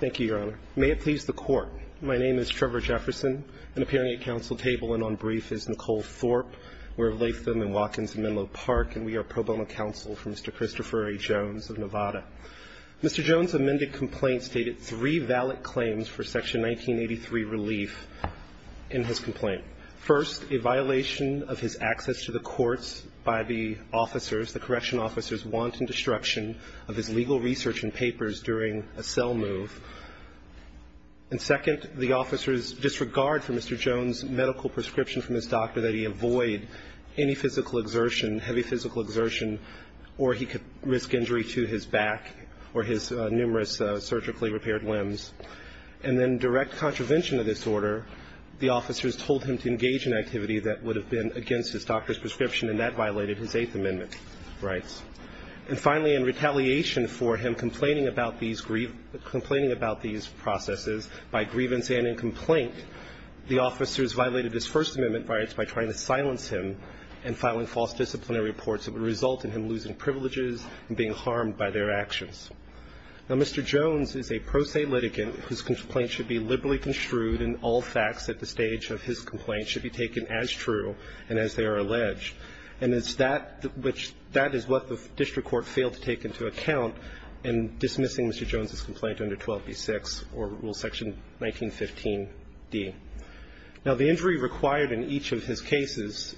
Thank you, Your Honor. May it please the Court, my name is Trevor Jefferson. And appearing at counsel table and on brief is Nicole Thorpe. We're of Latham and Watkins in Menlo Park. And we are pro bono counsel for Mr. Christopher A. Jones of Nevada. Mr. Jones' amended complaint stated three valid claims for Section 1983 relief in his complaint. First, a violation of his access to the courts by the officers, the correction officers' wanton destruction of his legal research and papers during a cell move and second, the officers' disregard for Mr. Jones' medical prescription from his doctor that he avoid any physical exertion, heavy physical exertion, or he could risk injury to his back or his numerous surgically repaired limbs. And then direct contravention of this order, the officers told him to engage in activity that would have been against his doctor's prescription and that violated his Eighth Amendment rights. And finally, in retaliation for him complaining about these grievance by grievance and in complaint, the officers violated his First Amendment rights by trying to silence him and filing false disciplinary reports that would result in him losing privileges and being harmed by their actions. Now, Mr. Jones is a pro se litigant whose complaint should be liberally construed and all facts at the stage of his complaint should be taken as true and as they are alleged. And it's that which that is what the court failed to take into account in dismissing Mr. Jones' complaint under 12b-6 or Rule Section 1915d. Now, the injury required in each of his cases,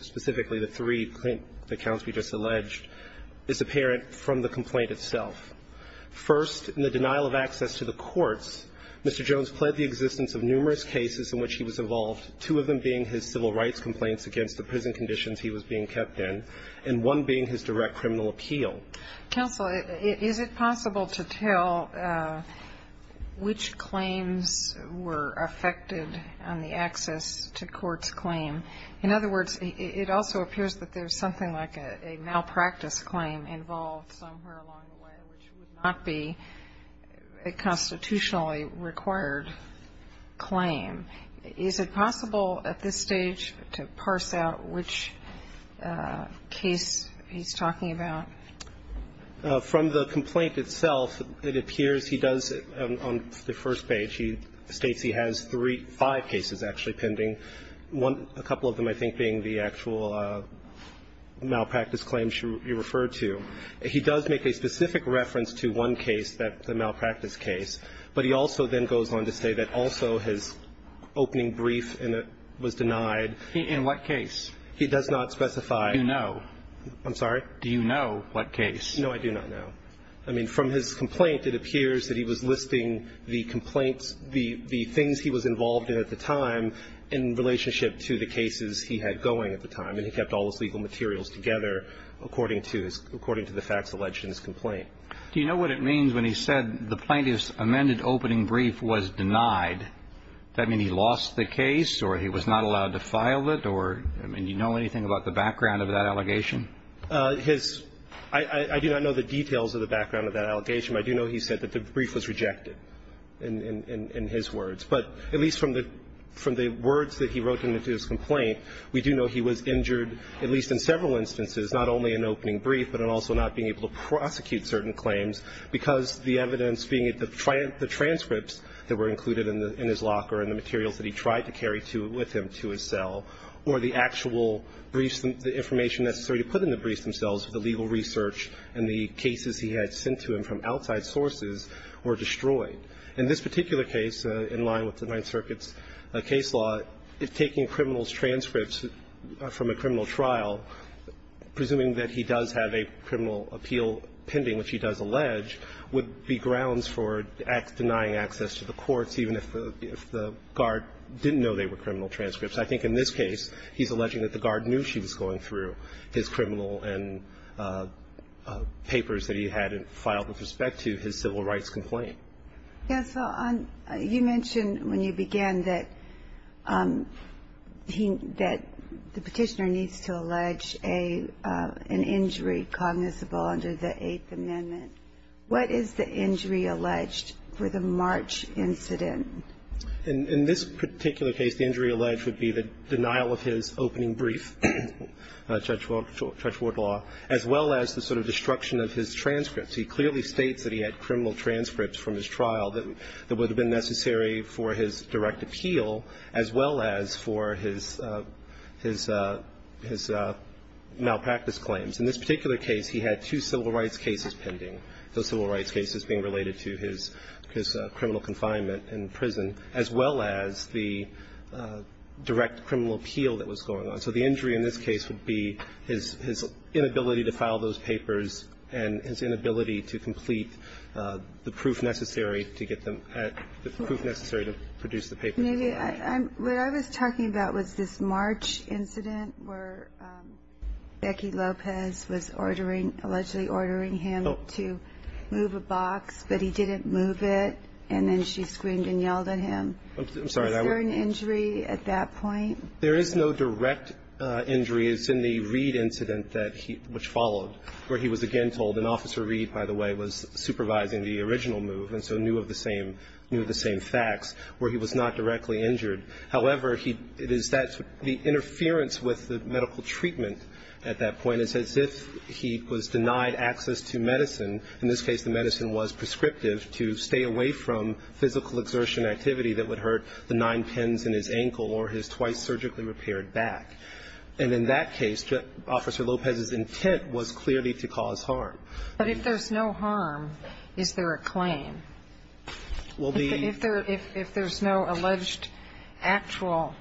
specifically the three accounts we just alleged, is apparent from the complaint itself. First, in the denial of access to the courts, Mr. Jones pled the existence of numerous cases in which he was involved, two of them being his civil rights complaints against the prison conditions he was being kept in, and one being his direct criminal appeal. Counsel, is it possible to tell which claims were affected on the access to courts' claim? In other words, it also appears that there's something like a malpractice claim involved somewhere along the way, which would not be a constitutionally required claim. Is it possible at this stage to parse that claim? Is it possible to parse out which case he's talking about? From the complaint itself, it appears he does, on the first page, he states he has three, five cases actually pending, one, a couple of them, I think, being the actual malpractice claims you referred to. He does make a specific reference to one case, the malpractice case, but he also then goes on to say that also his opening brief was denied. In what case? He does not specify. Do you know? I'm sorry? Do you know what case? No, I do not know. I mean, from his complaint, it appears that he was listing the complaints, the things he was involved in at the time in relationship to the cases he had going at the time, and he kept all his legal materials together according to the facts alleged in his complaint. Do you know what it means when he says his amended opening brief was denied? Does that mean he lost the case, or he was not allowed to file it, or, I mean, do you know anything about the background of that allegation? His – I do not know the details of the background of that allegation. I do know he said that the brief was rejected, in his words. But at least from the words that he wrote in his complaint, we do know he was injured, at least in several instances, not only in opening brief, but in also not being able to prosecute certain claims because the evidence being the transcripts that were included in his locker and the materials that he tried to carry with him to his cell, or the actual briefs, the information necessary to put in the briefs themselves, the legal research and the cases he had sent to him from outside sources were destroyed. In this particular case, in line with the Ninth Circuit's case law, if taking criminals' transcripts from a criminal trial, presuming that he does have a criminal appeal pending, which he does allege, would be grounds for denying access to the courts, even if the guard didn't know they were criminal transcripts. I think in this case, he's alleging that the guard knew she was going through his criminal and papers that he had filed with respect to his civil rights complaint. Ginsburg. You mentioned when you began that the Petitioner needs to allege an injury cognizable under the Eighth Amendment. What is the injury alleged for the March incident? In this particular case, the injury alleged would be the denial of his opening brief, Judge Wardlaw, as well as the sort of destruction of his transcripts. He clearly states that he had criminal transcripts from his trial that would have been necessary for his direct appeal, as well as for his malpractice claims. In this particular case, he had two civil rights cases pending, those civil rights cases being related to his criminal confinement in prison, as well as the direct criminal appeal that was going on. So the injury in this case would be his inability to file those papers and his inability to complete the proof necessary to get them at the proof necessary to produce the papers. What I was talking about was this March incident where Becky Lopez was ordering allegedly ordering him to move a box, but he didn't move it. And then she screamed and yelled at him. I'm sorry. Was there an injury at that point? There is no direct injury. It's in the Reed incident that he – which followed, where he was again told – and Officer Reed, by the way, was supervising the original move, and so knew of the same – knew of the same facts – where he was not directly injured. However, he – it is that – the interference with the medical treatment at that point is as if he was denied access to medicine. In this case, the medicine was prescriptive to stay away from physical exertion and activity that would hurt the nine pins in his ankle or his twice surgically repaired back. And in that case, Officer Lopez's intent was clearly to cause harm. But if there's no harm, is there a claim? Well, the – If there's no alleged actual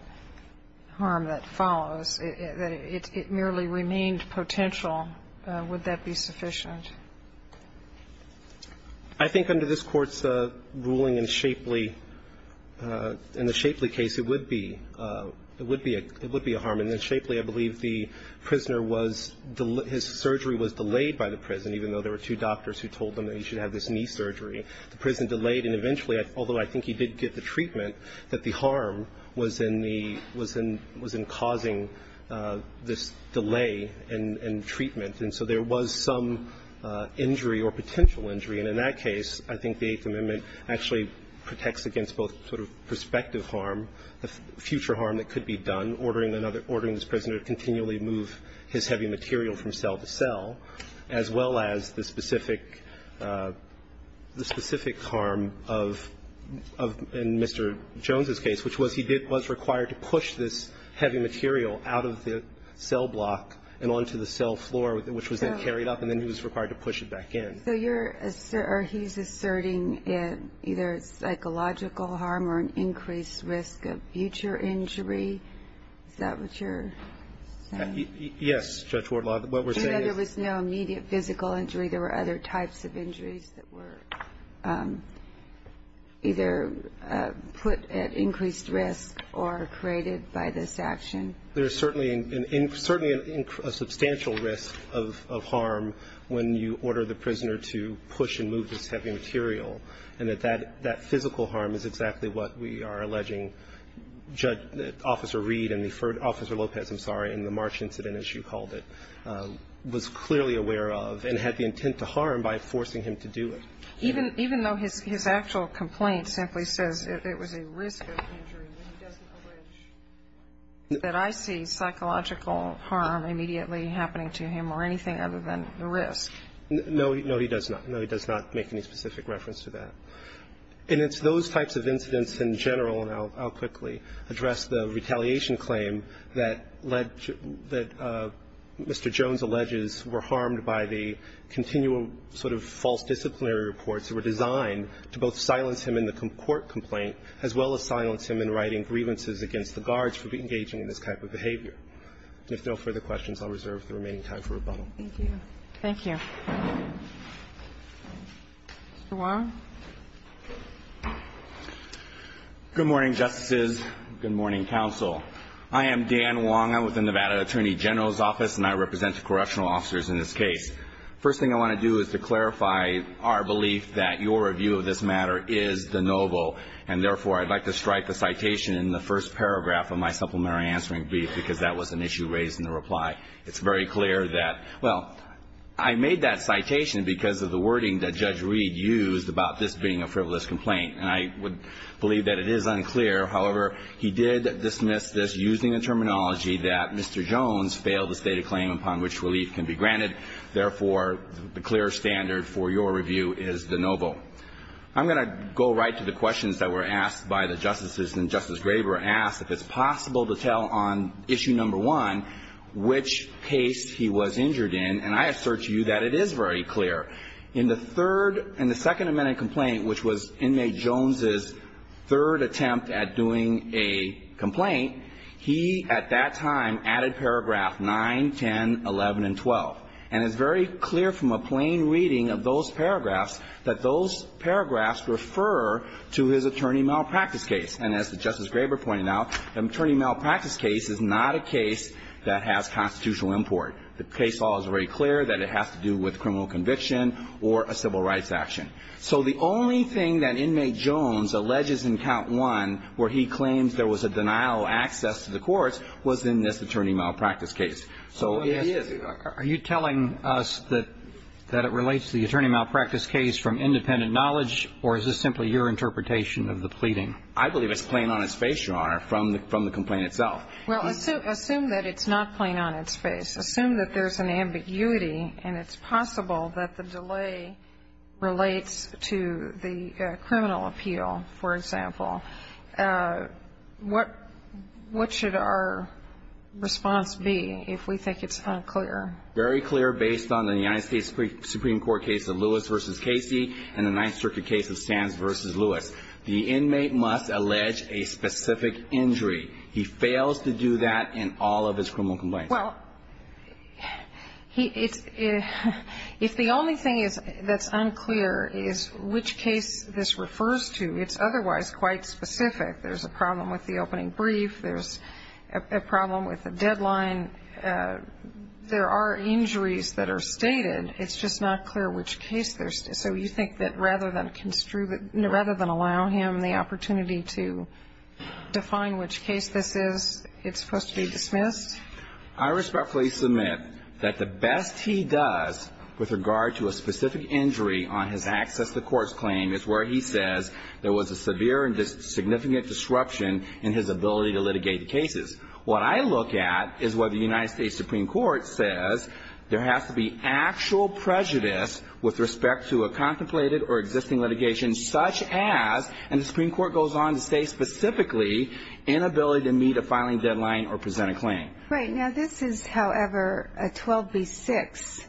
harm that follows, that it merely remained potential, would that be sufficient? I think under this Court's ruling in Shapely – in the Shapely case, it would be – it would be a – it would be a harm. In Shapely, I believe the prisoner was – his surgery was delayed by the prison, even though there were two doctors who told him that he should have this knee surgery. The prison delayed, and eventually, although I think he did get the treatment, that the harm was in the – was in causing this delay in treatment. And so there was some injury or potential injury. And in that case, I think the Eighth Amendment actually protects against both sort of prospective harm, the future harm that could be done, ordering another – ordering this prisoner to continually move his heavy material from cell to cell, as well as the specific – the specific harm of – in Mr. Jones's case, which was he did – was which was then carried up, and then he was required to push it back in. So you're – or he's asserting either psychological harm or an increased risk of future injury? Is that what you're saying? Yes, Judge Wardlaw. What we're saying is – And that there was no immediate physical injury. There were other types of injuries that were either put at increased risk or created by this action? There's certainly an – certainly a substantial risk of harm when you order the prisoner to push and move this heavy material, and that that – that physical harm is exactly what we are alleging Judge – Officer Reed and the – Officer Lopez, I'm sorry, in the March incident, as you called it, was clearly aware of and had the intent to harm by forcing him to do it. Even – even though his actual complaint simply says it was a risk of injury, he doesn't allege that I see psychological harm immediately happening to him or anything other than the risk. No. No, he does not. No, he does not make any specific reference to that. And it's those types of incidents in general – and I'll quickly address the retaliation claim that led to – that Mr. Jones alleges were harmed by the continual sort of false disciplinary reports that were designed to both silence him in the court complaint as well as silence him in writing grievances against the guards for engaging in this type of behavior. If there are no further questions, I'll reserve the remaining time for rebuttal. Thank you. Thank you. Mr. Wong. Good morning, Justices. Good morning, Counsel. I am Dan Wong. I'm with the Nevada Attorney General's Office, and I represent the correctional officers in this case. The first thing I want to do is to clarify our belief that your review of this matter is the noble, and therefore, I'd like to strike the citation in the first paragraph of my supplementary answering brief because that was an issue raised in the reply. It's very clear that – well, I made that citation because of the wording that Judge Reid used about this being a frivolous complaint, and I would believe that it is unclear. However, he did dismiss this using the terminology that Mr. Jones failed to state a claim upon which relief can be granted. Therefore, the clear standard for your review is the noble. I'm going to go right to the questions that were asked by the Justices, and Justice Graber asked if it's possible to tell on issue number one which case he was injured in, and I assert to you that it is very clear. In the third – in the Second Amendment complaint, which was Inmate Jones' third attempt at doing a complaint, he, at that time, added paragraph 9, 10, 11, and 12, and it's very clear from a plain reading of those paragraphs that those paragraphs refer to his attorney malpractice case. And as Justice Graber pointed out, the attorney malpractice case is not a case that has constitutional import. The case law is very clear that it has to do with criminal conviction or a civil rights action. So the only thing that Inmate Jones alleges in count one where he claims there was a denial of access to the courts was in this attorney malpractice case. So are you telling us that it relates to the attorney malpractice case from independent knowledge, or is this simply your interpretation of the pleading? I believe it's plain on its face, Your Honor, from the complaint itself. Well, assume that it's not plain on its face. Assume that there's an ambiguity and it's possible that the delay relates to the criminal appeal, for example. What should our response be if we think it's unclear? Very clear based on the United States Supreme Court case of Lewis v. Casey and the Ninth Circuit case of Sands v. Lewis. The inmate must allege a specific injury. He fails to do that in all of his criminal complaints. Well, if the only thing that's unclear is which case this refers to, it's otherwise quite specific. There's a problem with the opening brief. There's a problem with the deadline. There are injuries that are stated. It's just not clear which case there's. So you think that rather than allow him the opportunity to define which case this is, it's supposed to be dismissed? I respectfully submit that the best he does with regard to a specific injury on his access to court's claim is where he says there was a severe and significant disruption in his ability to litigate the cases. What I look at is what the United States Supreme Court says there has to be actual prejudice with respect to a contemplated or existing litigation such as, and the Supreme Court goes on to say specifically, inability to meet a filing deadline or present a claim. Right. Now, this is, however, a 12b-6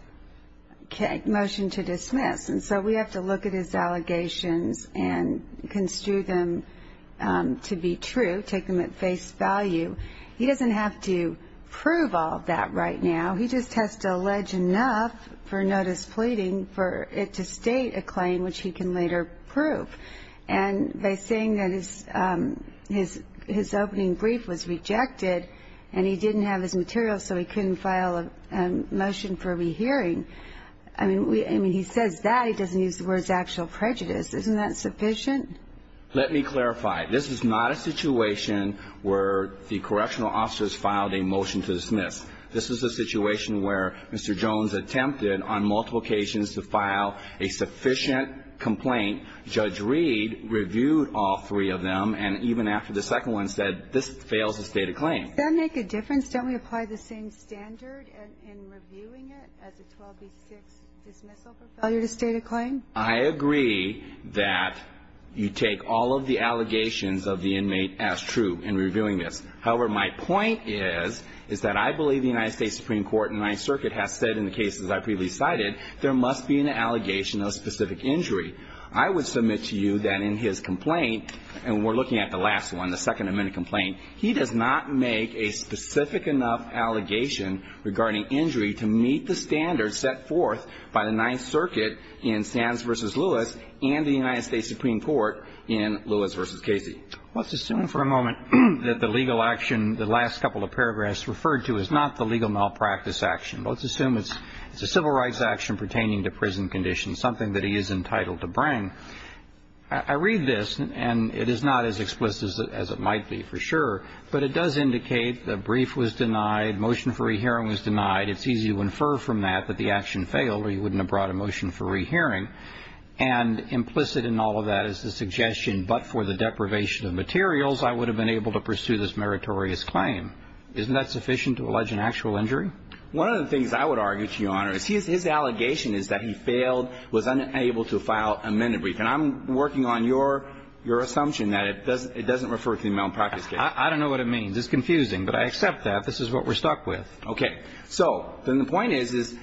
motion to dismiss. And so we have to look at his allegations and construe them to be true, take them at face value. He doesn't have to prove all of that right now. He just has to allege enough for notice pleading for it to state a claim which he can later prove. And by saying that his opening brief was rejected and he didn't have his materials so he couldn't file a I mean, he says that. He doesn't use the words actual prejudice. Isn't that sufficient? Let me clarify. This is not a situation where the correctional officers filed a motion to dismiss. This is a situation where Mr. Jones attempted on multiple occasions to file a sufficient complaint. Judge Reed reviewed all three of them. And even after the second one said, this fails to state a claim. Does that make a difference? Don't we apply the same standard in reviewing it as a 12b-6 dismissal for failure to state a claim? I agree that you take all of the allegations of the inmate as true in reviewing this. However, my point is, is that I believe the United States Supreme Court and Ninth Circuit has said in the cases I've previously cited, there must be an allegation of a specific injury. I would submit to you that in his complaint, and we're looking at the last one, the Second Amendment complaint, he does not make a specific enough allegation regarding injury to meet the standards set forth by the Ninth Circuit in Sands v. Lewis and the United States Supreme Court in Lewis v. Casey. Let's assume for a moment that the legal action, the last couple of paragraphs referred to, is not the legal malpractice action. Let's assume it's a civil rights action pertaining to prison conditions, something that he is entitled to bring. I read this, and it is not as explicit as it might be for sure, but it does indicate that brief was denied, motion for rehearing was denied. It's easy to infer from that that the action failed or he wouldn't have brought a motion for rehearing. And implicit in all of that is the suggestion, but for the deprivation of materials, I would have been able to pursue this meritorious claim. Isn't that sufficient to allege an actual injury? One of the things I would argue to Your Honor is his allegation is that he failed, was unable to file a minute brief. And I'm working on your assumption that it doesn't refer to the malpractice case. I don't know what it means. It's confusing, but I accept that. This is what we're stuck with. Okay. So then the point is, is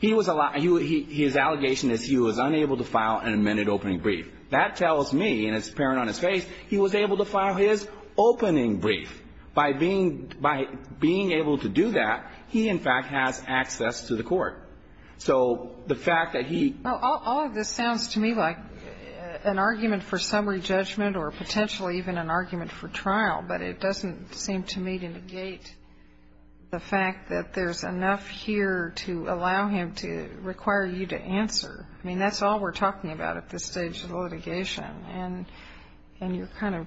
he was allowed, his allegation is he was unable to file an amended opening brief. That tells me, and it's apparent on his face, he was able to file his opening brief. By being able to do that, he, in fact, has access to the court. So the fact that he ---- Well, all of this sounds to me like an argument for summary judgment or potentially even an argument for trial, but it doesn't seem to me to negate the fact that there's enough here to allow him to require you to answer. I mean, that's all we're talking about at this stage of the litigation. And you're kind of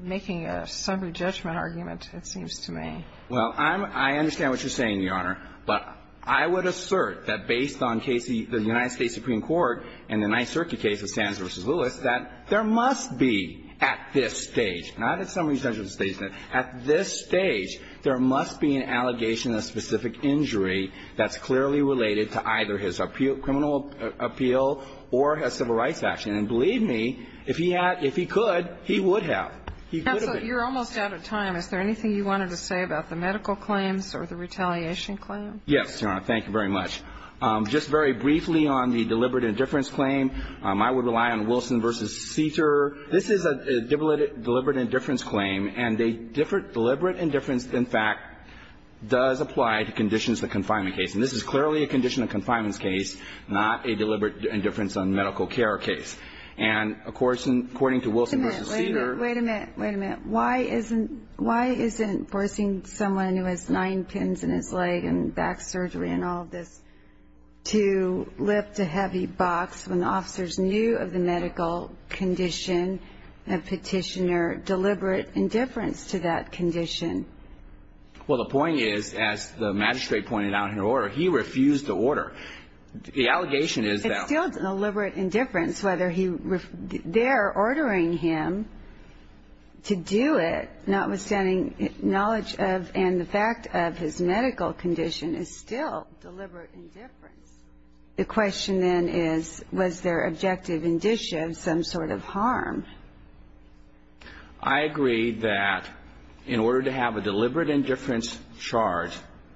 making a summary judgment argument, it seems to me. Well, I understand what you're saying, Your Honor. But I would assert that based on the United States Supreme Court and the Ninth Circuit case of Sands v. Lewis, that there must be at this stage, not at summary judgment stage, but at this stage, there must be an allegation of specific injury that's clearly related to either his criminal appeal or his civil rights action. And believe me, if he had ---- if he could, he would have. He could have been. Counsel, you're almost out of time. Is there anything you wanted to say about the medical claims or the retaliation claim? Yes, Your Honor. Thank you very much. Just very briefly on the deliberate indifference claim, I would rely on Wilson v. Seter. This is a deliberate indifference claim, and a deliberate indifference, in fact, does apply to conditions of confinement case. And this is clearly a condition of confinement case, not a deliberate indifference on medical care case. And according to Wilson v. Seter ---- Wait a minute. Wait a minute. Why isn't forcing someone who has nine pins in his leg and back surgery and all this to lift a heavy box when officers knew of the medical condition and petitioner deliberate indifference to that condition? Well, the point is, as the magistrate pointed out in her order, he refused to order. The allegation is that ---- It's still deliberate indifference, whether he ---- They're ordering him to do it, notwithstanding knowledge of and the fact of his medical condition is still deliberate indifference. The question then is, was there objective indicia of some sort of harm? I agree that in order to have a deliberate indifference charge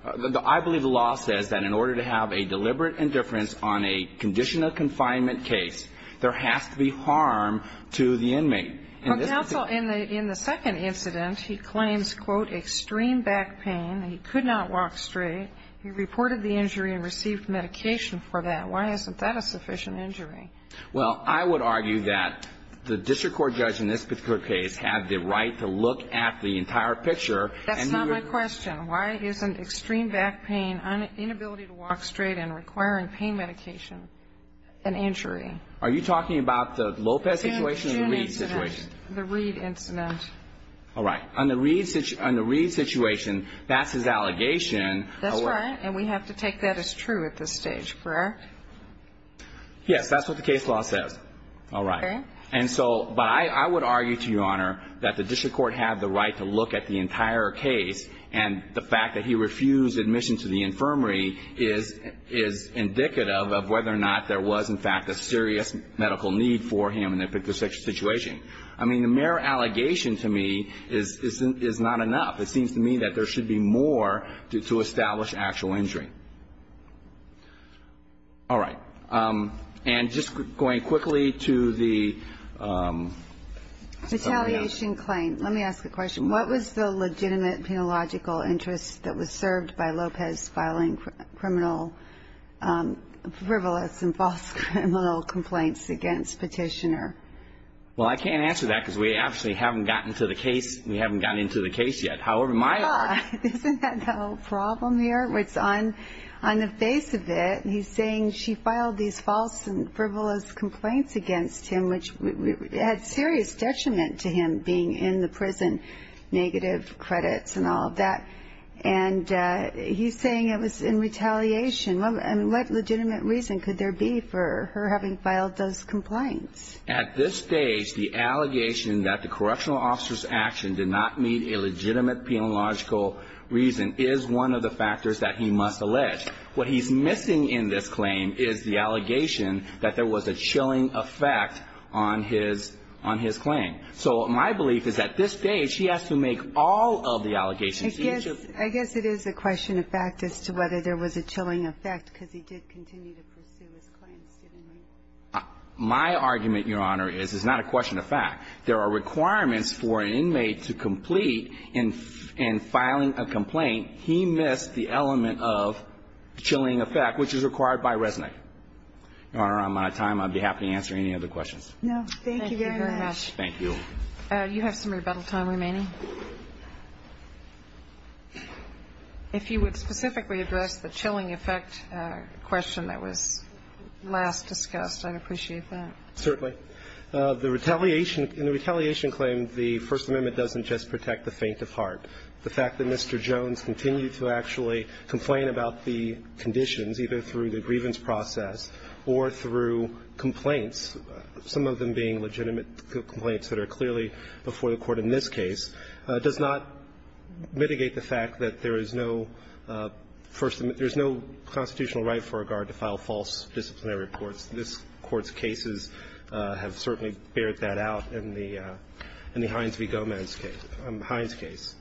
---- I believe the law says that in order to have a deliberate indifference on a condition of confinement case, there has to be harm to the inmate. Counsel, in the second incident, he claims, quote, extreme back pain. He could not walk straight. He reported the injury and received medication for that. Why isn't that a sufficient injury? Well, I would argue that the district court judge in this particular case had the right to look at the entire picture. That's not my question. Why isn't extreme back pain, inability to walk straight and requiring pain medication an injury? Are you talking about the Lopez situation or the Reed situation? The Reed incident. All right. On the Reed situation, that's his allegation. That's right. And we have to take that as true at this stage, correct? Yes. That's what the case law says. All right. Okay. And so ---- I would argue to Your Honor that the district court had the right to look at the entire case, and the fact that he refused admission to the infirmary is indicative of whether or not there was, in fact, a serious medical need for him in this particular situation. I mean, the mere allegation to me is not enough. It seems to me that there should be more to establish actual injury. All right. And just going quickly to the ---- Retaliation claim. Let me ask a question. What was the legitimate penological interest that was served by Lopez filing criminal, frivolous and false criminal complaints against Petitioner? Well, I can't answer that because we obviously haven't gotten to the case. We haven't gotten into the case yet. However, my argument ---- Isn't that the problem here? On the face of it, he's saying she filed these false and frivolous complaints against him, which had serious detriment to him being in the prison, negative credits and all of that. And he's saying it was in retaliation. And what legitimate reason could there be for her having filed those complaints? At this stage, the allegation that the correctional officer's action did not meet a legitimate penological reason is one of the factors that he must allege. What he's missing in this claim is the allegation that there was a chilling effect on his claim. So my belief is at this stage, he has to make all of the allegations. I guess it is a question of fact as to whether there was a chilling effect because he did continue to pursue his claims, didn't he? My argument, Your Honor, is it's not a question of fact. There are requirements for an inmate to complete in filing a complaint, he missed the element of chilling effect, which is required by Resnick. Your Honor, I'm out of time. I'd be happy to answer any other questions. No. Thank you very much. Thank you. You have some rebuttal time remaining. If you would specifically address the chilling effect question that was last discussed, I'd appreciate that. Certainly. The retaliation – in the retaliation claim, the First Amendment doesn't just protect the faint of heart. The fact that Mr. Jones continued to actually complain about the conditions, either through the grievance process or through complaints, some of them being legitimate complaints that are clearly before the Court in this case, does not mitigate the fact that there is no First – there's no constitutional right for a guard to file false disciplinary reports. This Court's cases have certainly bared that out in the – in the Hines v. Gomez case – Hines case.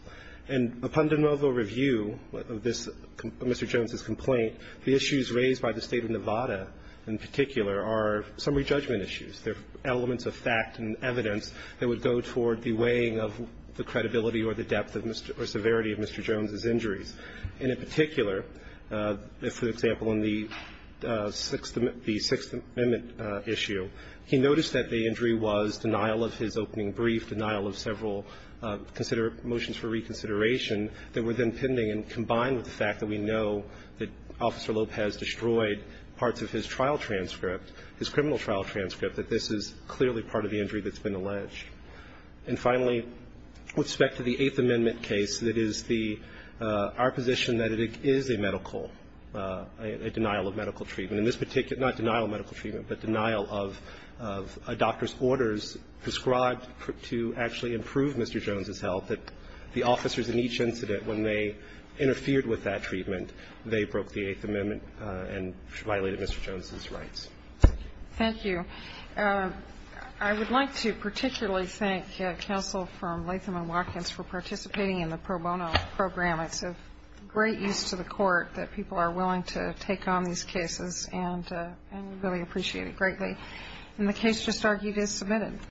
And upon de novo review of this – Mr. Jones's complaint, the issues raised by the State of Nevada in particular are summary judgment issues. They're elements of fact and evidence that would go toward the weighing of the credibility or the depth of Mr. – or severity of Mr. Jones's injuries. And in particular, for example, in the Sixth Amendment issue, he noticed that the injury was denial of his opening brief, denial of several motions for reconsideration that were then pending, and combined with the fact that we know that Officer Lopez destroyed parts of his trial transcript, his criminal trial transcript, that this is clearly part of the injury that's been alleged. And finally, with respect to the Eighth Amendment case, it is the – our position that it is a medical – a denial of medical treatment. And this particular – not denial of medical treatment, but denial of a doctor's orders prescribed to actually improve Mr. Jones's health, that the officers in each incident, when they interfered with that treatment, they broke the Eighth Amendment and violated Mr. Jones's rights. Thank you. I would like to particularly thank counsel from Latham & Watkins for participating in the pro bono program. It's of great use to the court that people are willing to take on these cases, and we really appreciate it greatly. And the case just argued is submitted.